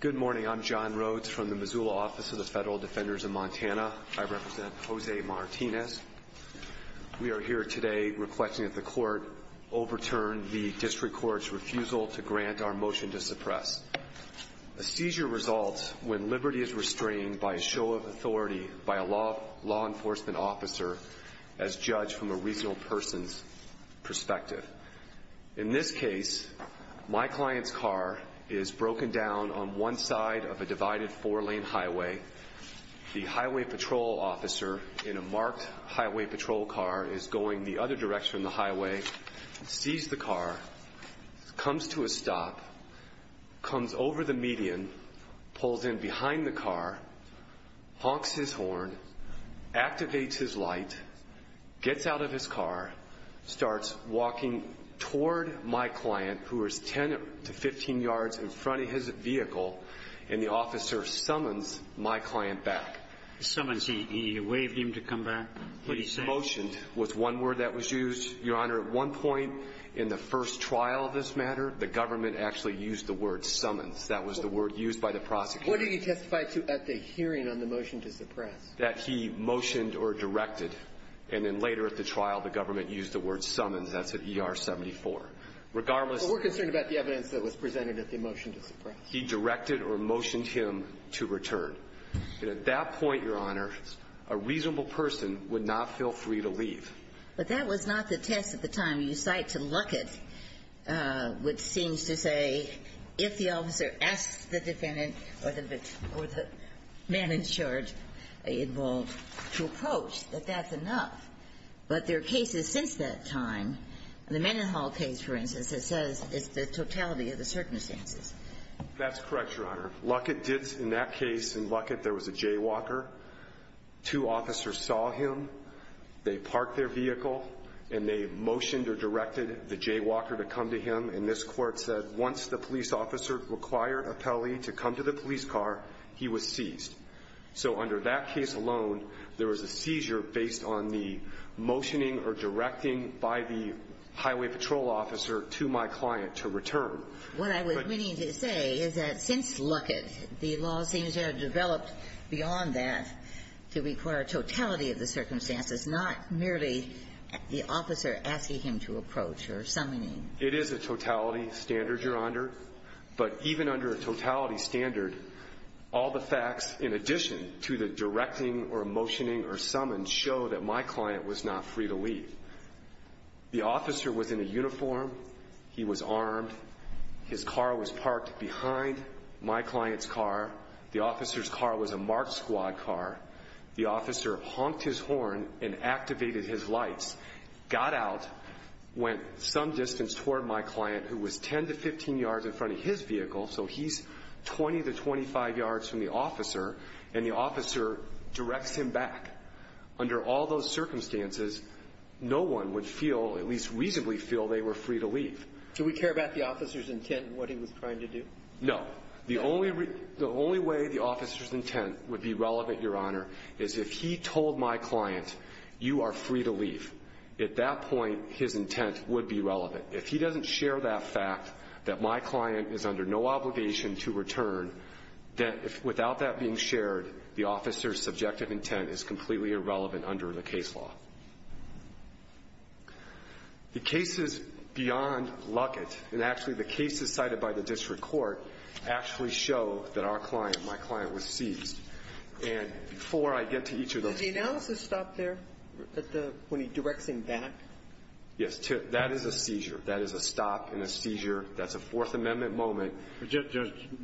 Good morning, I'm John Rhodes from the Missoula Office of the Federal Defenders of Montana. I represent Jose Martinez. We are here today requesting that the court overturn the district court's refusal to grant our motion to suppress. A seizure results when liberty is restrained by a show of authority by a law enforcement officer as judged from a reasonable person's perspective. In this case, my client's car is broken down on one side of a divided four-lane highway. The highway patrol officer in a marked highway patrol car is going the other direction of the highway, sees the car, comes to a stop, comes over the median, pulls in behind the car, is walking toward my client, who is 10 to 15 yards in front of his vehicle, and the officer summons my client back. He summons him. He waved him to come back? He motioned was one word that was used, Your Honor. At one point in the first trial of this matter, the government actually used the word summons. That was the word used by the prosecutor. What did he testify to at the hearing on the motion to suppress? That he motioned or directed. And then later at the trial, the government used the word summons. That's at ER 74. Regardless of the evidence that was presented at the motion to suppress. He directed or motioned him to return. And at that point, Your Honor, a reasonable person would not feel free to leave. But that was not the test at the time. You cite to Luckett, which seems to say if the officer asks the defendant or the man in charge to approach, that that's enough. But there are cases since that time, the Mendenhall case, for instance, that says it's the totality of the circumstances. That's correct, Your Honor. Luckett did, in that case, in Luckett, there was a jaywalker. Two officers saw him. They parked their vehicle. And they motioned or directed the jaywalker to come to him. And this court said once the police officer required a pele to come to the police car, he was seized. So under that case alone, there was a seizure based on the motioning or directing by the highway patrol officer to my client to return. What I was meaning to say is that since Luckett, the law seems to have developed beyond that to require totality of the circumstances, not merely the officer asking him to approach or summoning him. It is a totality standard, Your Honor. But even under a totality standard, all the facts in addition to the directing or motioning or summons show that my client was not free to leave. The officer was in a uniform. He was armed. His car was parked behind my client's car. The officer's car was a marked squad car. The officer honked his horn and activated his lights, got out, went some distance toward my client who was 10 to 15 yards in front of his vehicle. So he's 20 to 25 yards from the officer, and the officer directs him back. Under all those circumstances, no one would feel, at least reasonably feel, they were free to leave. Do we care about the officer's intent and what he was trying to do? No. The only way the officer's intent would be relevant, Your Honor, is if he told my client, you are free to leave. At that point, his intent would be relevant. If he doesn't share that fact, that my client is under no obligation to return, that without that being shared, the officer's subjective intent is completely irrelevant under the case law. The cases beyond Luckett, and actually the cases cited by the district court, actually show that our client, my client, was seized. And before I get to each of those- Did the analysis stop there when he directs him back? Yes, that is a seizure. That is a stop and a seizure. That's a Fourth Amendment moment. Judge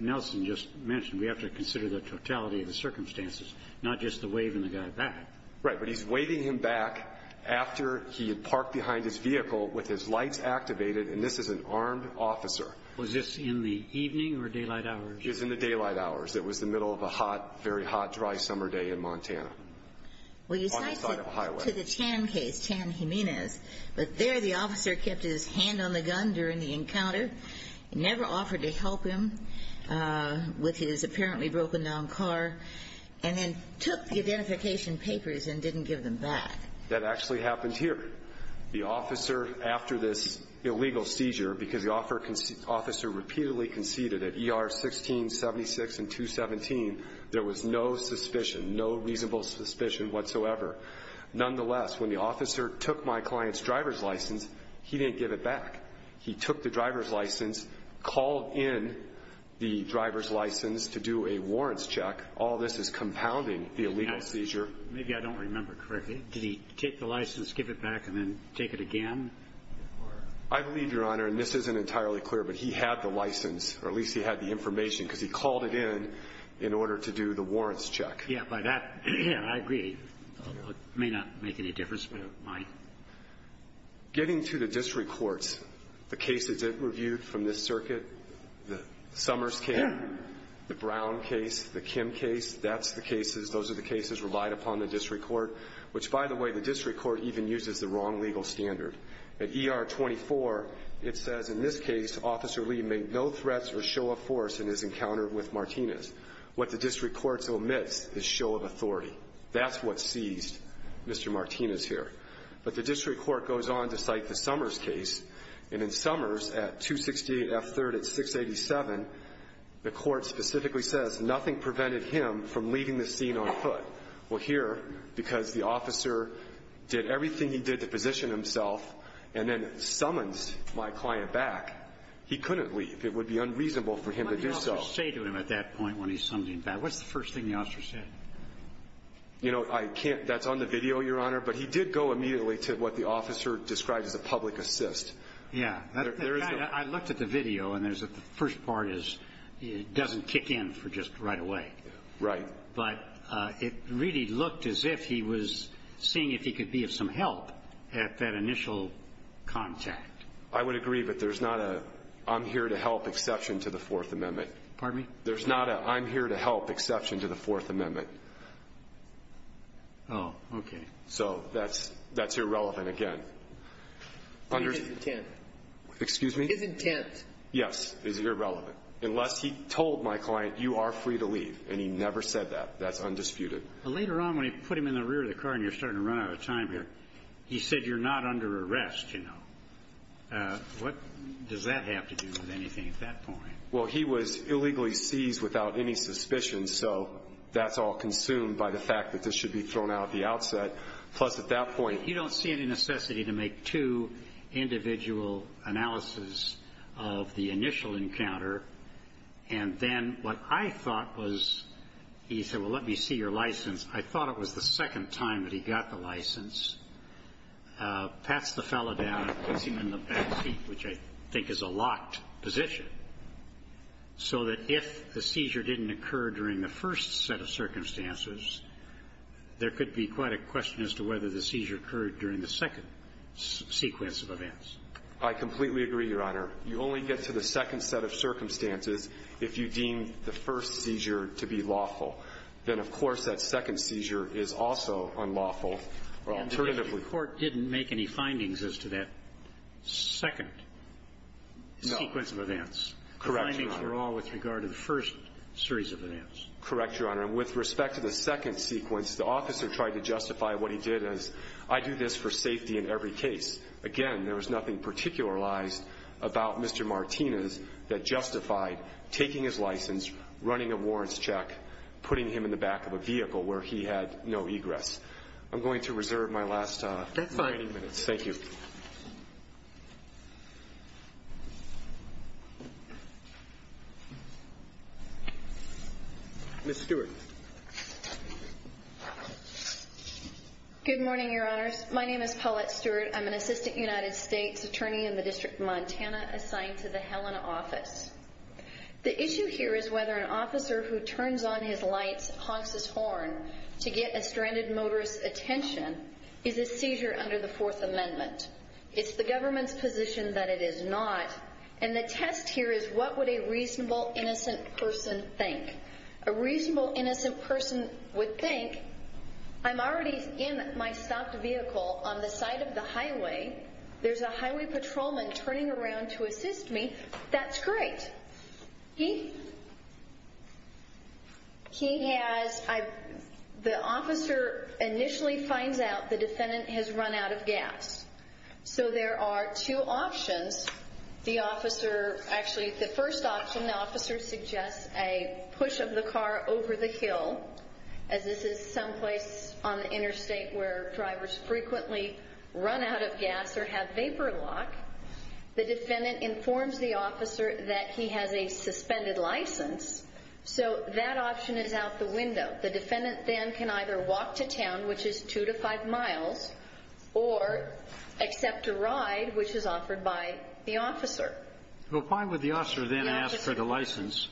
Nelson just mentioned we have to consider the totality of the circumstances, not just the waving the guy back. Right, but he's waving him back after he had parked behind his vehicle with his lights activated, and this is an armed officer. Was this in the evening or daylight hours? It was in the daylight hours. It was the middle of a hot, very hot, dry summer day in Montana. On the side of a highway. To the Chan case, Chan Jimenez, but there the officer kept his hand on the gun during the encounter, never offered to help him with his apparently broken down car, and then took the identification papers and didn't give them back. That actually happened here. The officer, after this illegal seizure, because the officer repeatedly conceded at ER 1676 and 217, there was no suspicion, no reasonable suspicion whatsoever. Nonetheless, when the officer took my client's driver's license, he didn't give it back. He took the driver's license, called in the driver's license to do a warrants check. All this is compounding the illegal seizure. Maybe I don't remember correctly. Did he take the license, give it back, and then take it again? I believe, Your Honor, and this isn't entirely clear, but he had the license, or at least he had the information, because he called it in in order to do the warrants check. Yeah, but that, I agree, may not make any difference, but it might. Getting to the district courts, the cases that were viewed from this circuit, the Summers case, the Brown case, the Kim case, that's the cases, those are the cases relied upon in the district court, which, by the way, the district court even uses the wrong legal standard. At ER 24, it says, in this case, Officer Lee made no threats or show of force in his encounter with Martinez. What the district court omits is show of authority. That's what seized Mr. Martinez here. But the district court goes on to cite the Summers case. And in Summers, at 268 F3rd at 687, the court specifically says, nothing prevented him from leaving the scene on foot. Well, here, because the officer did everything he did to position himself, and then summons my client back, he couldn't leave. It would be unreasonable for him to do so. What did the officer say to him at that point when he summoned him back? What's the first thing the officer said? You know, I can't, that's on the video, Your Honor, but he did go immediately to what the officer described as a public assist. Yeah, I looked at the video, and there's the first part is, it doesn't kick in for just right away. Right. But it really looked as if he was seeing if he could be of some help at that initial contact. I would agree, but there's not a, I'm here to help exception to the Fourth Amendment. Pardon me? There's not a, I'm here to help exception to the Fourth Amendment. Oh, okay. So that's, that's irrelevant again. Under- His intent. Excuse me? His intent. Yes, is irrelevant, unless he told my client, you are free to leave. And he never said that. That's undisputed. Later on, when he put him in the rear of the car, and you're starting to run out of time here, he said, you're not under arrest, you know. What does that have to do with anything at that point? Well, he was illegally seized without any suspicion, so that's all consumed by the fact that this should be thrown out at the outset. Plus, at that point- You don't see any necessity to make two individual analysis of the initial encounter. And then, what I thought was, he said, well, let me see your license. I thought it was the second time that he got the license. Passed the fellow down, because he was in the back seat, which I think is a locked position, so that if the seizure didn't occur during the first set of circumstances, there could be quite a question as to whether the seizure occurred during the second sequence of events. I completely agree, Your Honor. You only get to the second set of circumstances if you deem the first seizure to be lawful. Then, of course, that second seizure is also unlawful, or alternatively- The court didn't make any findings as to that second sequence of events. Correct, Your Honor. The findings were all with regard to the first series of events. Correct, Your Honor. And with respect to the second sequence, the officer tried to justify what he did as, I do this for safety in every case. Again, there was nothing particularized about Mr. Martinez that justified taking his license, running a warrants check, putting him in the back of a vehicle where he had no egress. I'm going to reserve my last 90 minutes. That's fine. Thank you. Ms. Stewart. Good morning, Your Honors. My name is Paulette Stewart. I'm an assistant United States attorney in the District of Montana assigned to the Helena office. The issue here is whether an officer who turns on his lights, honks his horn, to get a stranded motorist's attention, is a seizure under the Fourth Amendment. It's the government's position that it is not. And the test here is, what would a reasonable, innocent person think? A reasonable, innocent person would think, I'm already in my stopped vehicle on the side of the highway. There's a highway patrolman turning around to assist me. That's great. He has, the officer initially finds out the defendant has run out of gas. So there are two options. The officer, actually the first option, the officer suggests a push of the car over the hill, as this is someplace on the interstate where drivers frequently run out of gas or have vapor lock. The defendant informs the officer that he has a suspended license. So that option is out the window. The defendant then can either walk to town, which is two to five miles, or accept a ride, which is offered by the officer. Well, why would the officer then ask for the license,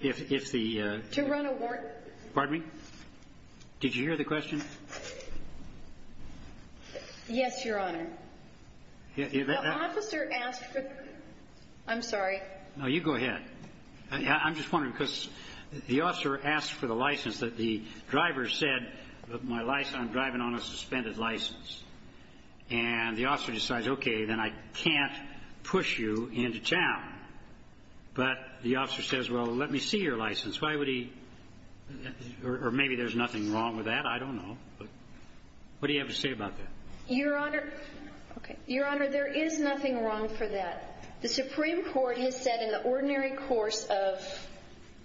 if the? To run a warrant. Pardon me? Did you hear the question? Yes, your honor. The officer asked for, I'm sorry. No, you go ahead. I'm just wondering, because the officer asked for the license that the driver said, my license, I'm driving on a suspended license. And the officer decides, OK, then I can't push you into town. But the officer says, well, let me see your license. Why would he, or maybe there's nothing wrong with that. I don't know. What do you have to say about that? Your honor, there is nothing wrong for that. The Supreme Court has said in the ordinary course of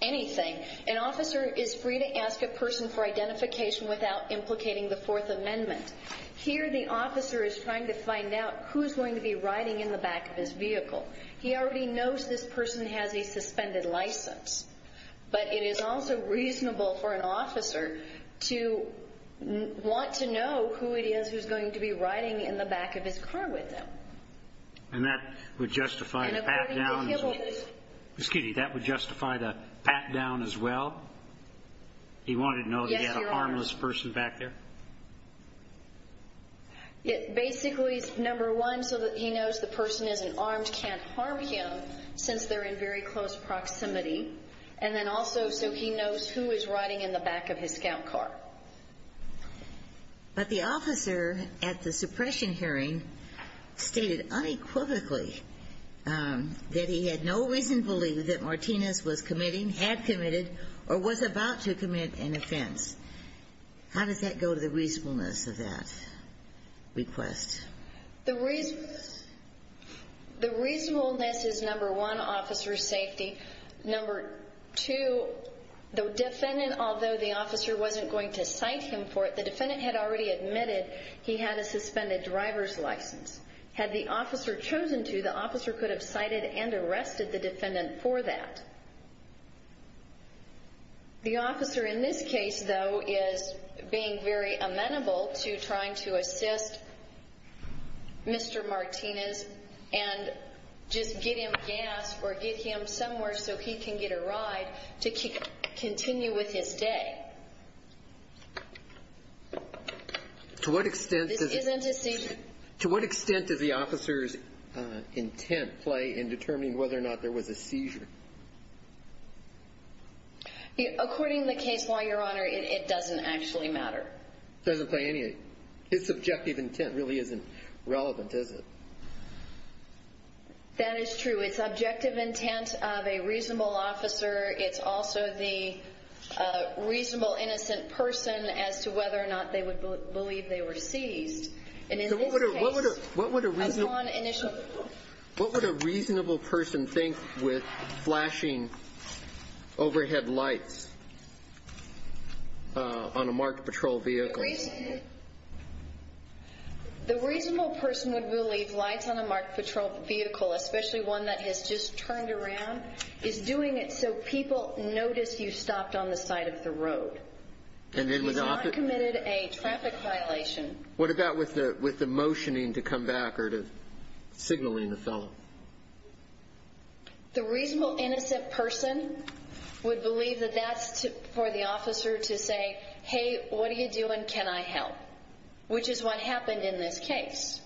anything, an officer is free to ask a person for identification without implicating the Fourth Amendment. Here, the officer is trying to find out who's going to be riding in the back of his vehicle. He already knows this person has a suspended license. But it is also reasonable for an officer to want to know who it is who's going to be riding in the back of his car with him. And that would justify the pat down as well? He wanted to know that he had a harmless person back there? Basically, number one, so that he knows the person isn't armed, can't harm him, since they're in very close proximity. And then also, so he knows who is riding in the back of his scout car. But the officer at the suppression hearing stated unequivocally that he had no reason to believe that Martinez was committing, had committed, or was about to commit an offense. How does that go to the reasonableness of that request? The reasonableness is, number one, officer's safety. Number two, the defendant, although the officer wasn't going to cite him for it, the defendant had already admitted he had a suspended driver's license. Had the officer chosen to, the officer could have cited and arrested the defendant for that. The officer in this case, though, is being very amenable to trying to assist Mr. Martinez and just give him gas, or give him somewhere so he can get a ride, to continue with his day. This isn't a seizure? To what extent does the officer's intent play in determining whether or not there was a seizure? According to the case law, Your Honor, it doesn't actually matter. Doesn't play any, his subjective intent really isn't relevant, is it? That is true. It's objective intent of a reasonable officer. It's also the reasonable innocent person as to whether or not they would believe they were seized. And in this case, a non-initial. What would a reasonable person think with flashing overhead lights on a marked patrol vehicle? The reasonable person would believe lights on a marked patrol vehicle, especially one that has just turned around, is doing it so people notice you stopped on the side of the road. And it was not- He's not committed a traffic violation. What about with the motioning to come back or to signaling the fellow? The reasonable innocent person would believe that that's for the officer to say, hey, what are you doing, can I help? Which is what happened in this case.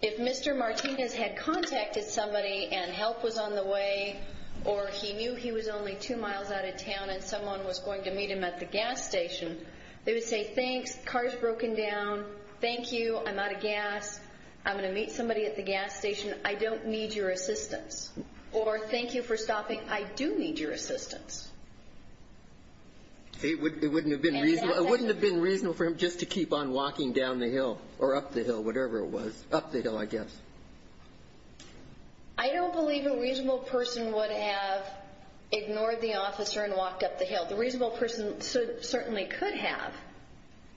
If Mr. Martinez had contacted somebody and help was on the way, or he knew he was only two miles out of town and someone was going to meet him at the gas station, they would say thanks. Car's broken down. Thank you, I'm out of gas. I'm going to meet somebody at the gas station. I don't need your assistance. Or thank you for stopping, I do need your assistance. It wouldn't have been reasonable for him just to keep on walking down the hill or up the hill, whatever it was, up the hill, I guess. I don't believe a reasonable person would have ignored the officer and walked up the hill. The reasonable person certainly could have,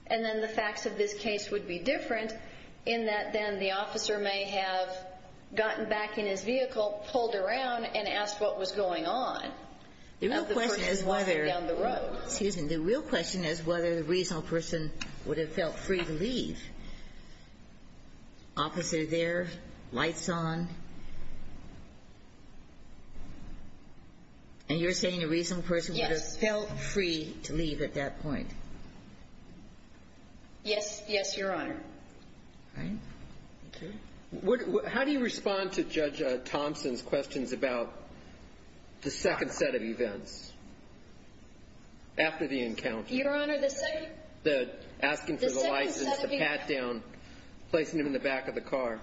and then the facts of this case would be different in that then the officer may have gotten back in his vehicle, pulled around, and asked what was going on. The real question is whether, excuse me, the real question is whether the reasonable person would have felt free to leave. Officer there, lights on. And you're saying a reasonable person would have felt free to leave at that point? Yes, yes, your honor. All right, thank you. How do you respond to Judge Thompson's questions about the second set of events? After the encounter. Your honor, the second. The asking for the license, the pat down, placing him in the back of the car.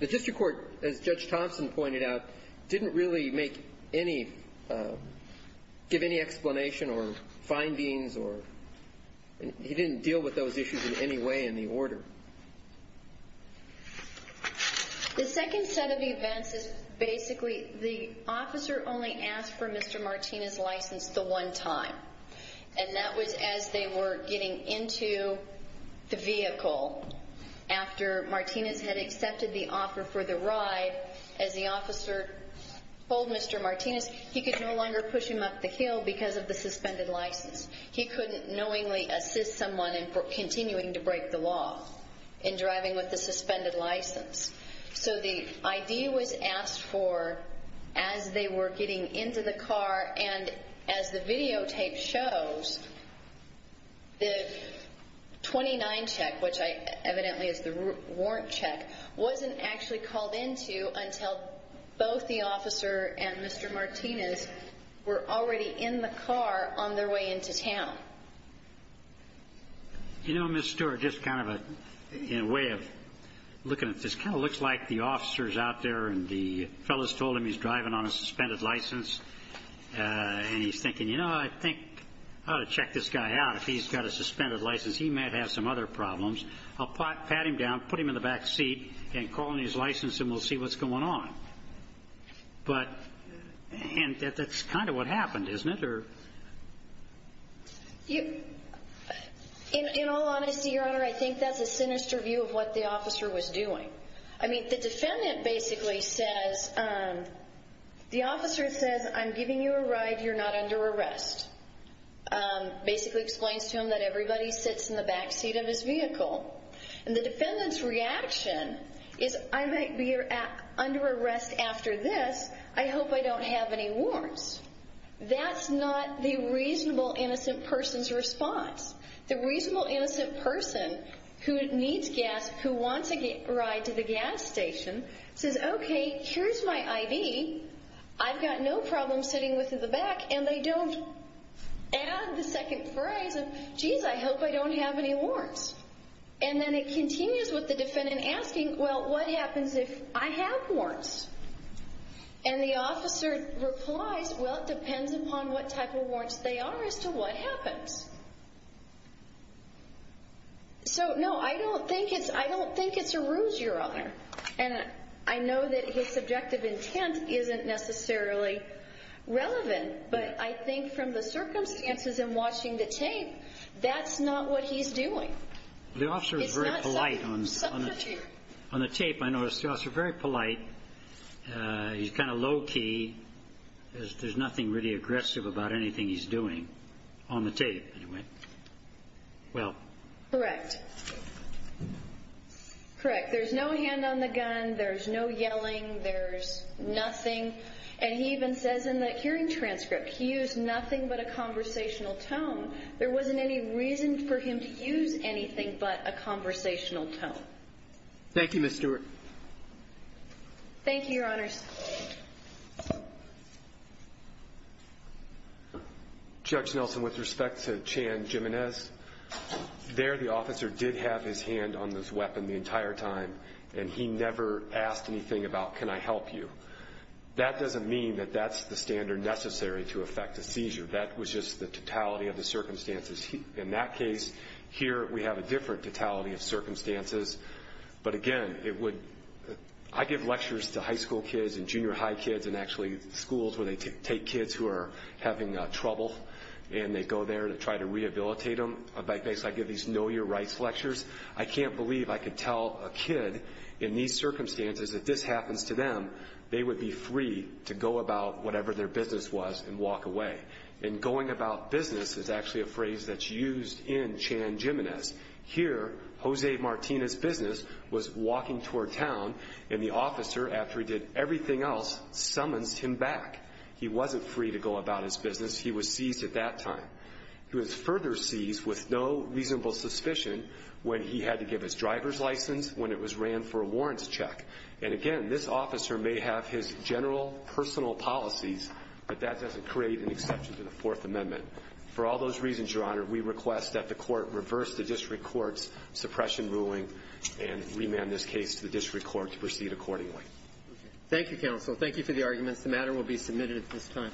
The district court, as Judge Thompson pointed out, didn't really make any, give any explanation or findings or, he didn't deal with those issues in any way in the order. The second set of events is basically, the officer only asked for Mr. Martinez's license the one time. And that was as they were getting into the vehicle. After Martinez had accepted the offer for the ride, as the officer told Mr. Martinez, he could no longer push him up the hill because of the suspended license. He couldn't knowingly assist someone in continuing to break the law. In driving with the suspended license. So the ID was asked for as they were getting into the car and as the videotape shows, the 29 check, which evidently is the warrant check, wasn't actually called into until both the officer and Mr. Martinez were already in the car on their way into town. You know, Ms. Stewart, just kind of a, in a way of looking at this, kind of looks like the officer's out there and the fellow's told him he's driving on a suspended license and he's thinking, you know, I think I ought to check this guy out. If he's got a suspended license, he might have some other problems. I'll pat him down, put him in the back seat, and call in his license and we'll see what's going on. But, and that's kind of what happened, isn't it, or? You, in all honesty, Your Honor, I think that's a sinister view of what the officer was doing. I mean, the defendant basically says, the officer says, I'm giving you a ride, you're not under arrest. Basically explains to him that everybody sits in the back seat of his vehicle. And the defendant's reaction is, I might be under arrest after this, I hope I don't have any warrants. That's not the reasonable innocent person's response. The reasonable innocent person who needs gas, who wants a ride to the gas station, says, okay, here's my ID. I've got no problem sitting in the back, and they don't add the second phrase of, jeez, I hope I don't have any warrants. And then it continues with the defendant asking, well, what happens if I have warrants? And the officer replies, well, it depends upon what type of warrants they are as to what happens. And I know that his subjective intent isn't necessarily relevant, but I think from the circumstances in watching the tape, that's not what he's doing. It's not subterfuge. On the tape, I noticed the officer, very polite, he's kind of low key. There's nothing really aggressive about anything he's doing, on the tape, anyway. Well. Correct. Correct, there's no hand on the gun, there's no yelling, there's nothing. And he even says in the hearing transcript, he used nothing but a conversational tone. There wasn't any reason for him to use anything but a conversational tone. Thank you, Ms. Stewart. Thank you, your honors. Judge Nelson, with respect to Chan Jimenez, there the officer did have his hand on this weapon the entire time. And he never asked anything about, can I help you? That doesn't mean that that's the standard necessary to affect a seizure. That was just the totality of the circumstances. In that case, here we have a different totality of circumstances. But again, it would, I give lectures to high school kids and junior high kids and actually schools where they take kids who are having trouble. And they go there to try to rehabilitate them. I basically give these know your rights lectures. I can't believe I could tell a kid in these circumstances that this happens to them, they would be free to go about whatever their business was and walk away. And going about business is actually a phrase that's used in Chan Jimenez. Here, Jose Martinez's business was walking toward town, and the officer, after he did everything else, summons him back. He wasn't free to go about his business. He was seized at that time. He was further seized with no reasonable suspicion when he had to give his driver's license, when it was ran for a warrants check. And again, this officer may have his general personal policies, but that doesn't create an exception to the Fourth Amendment. For all those reasons, Your Honor, we request that the court reverse the district court's suppression ruling and remand this case to the district court to proceed accordingly. Thank you, counsel. Thank you for the arguments. The matter will be submitted at this time.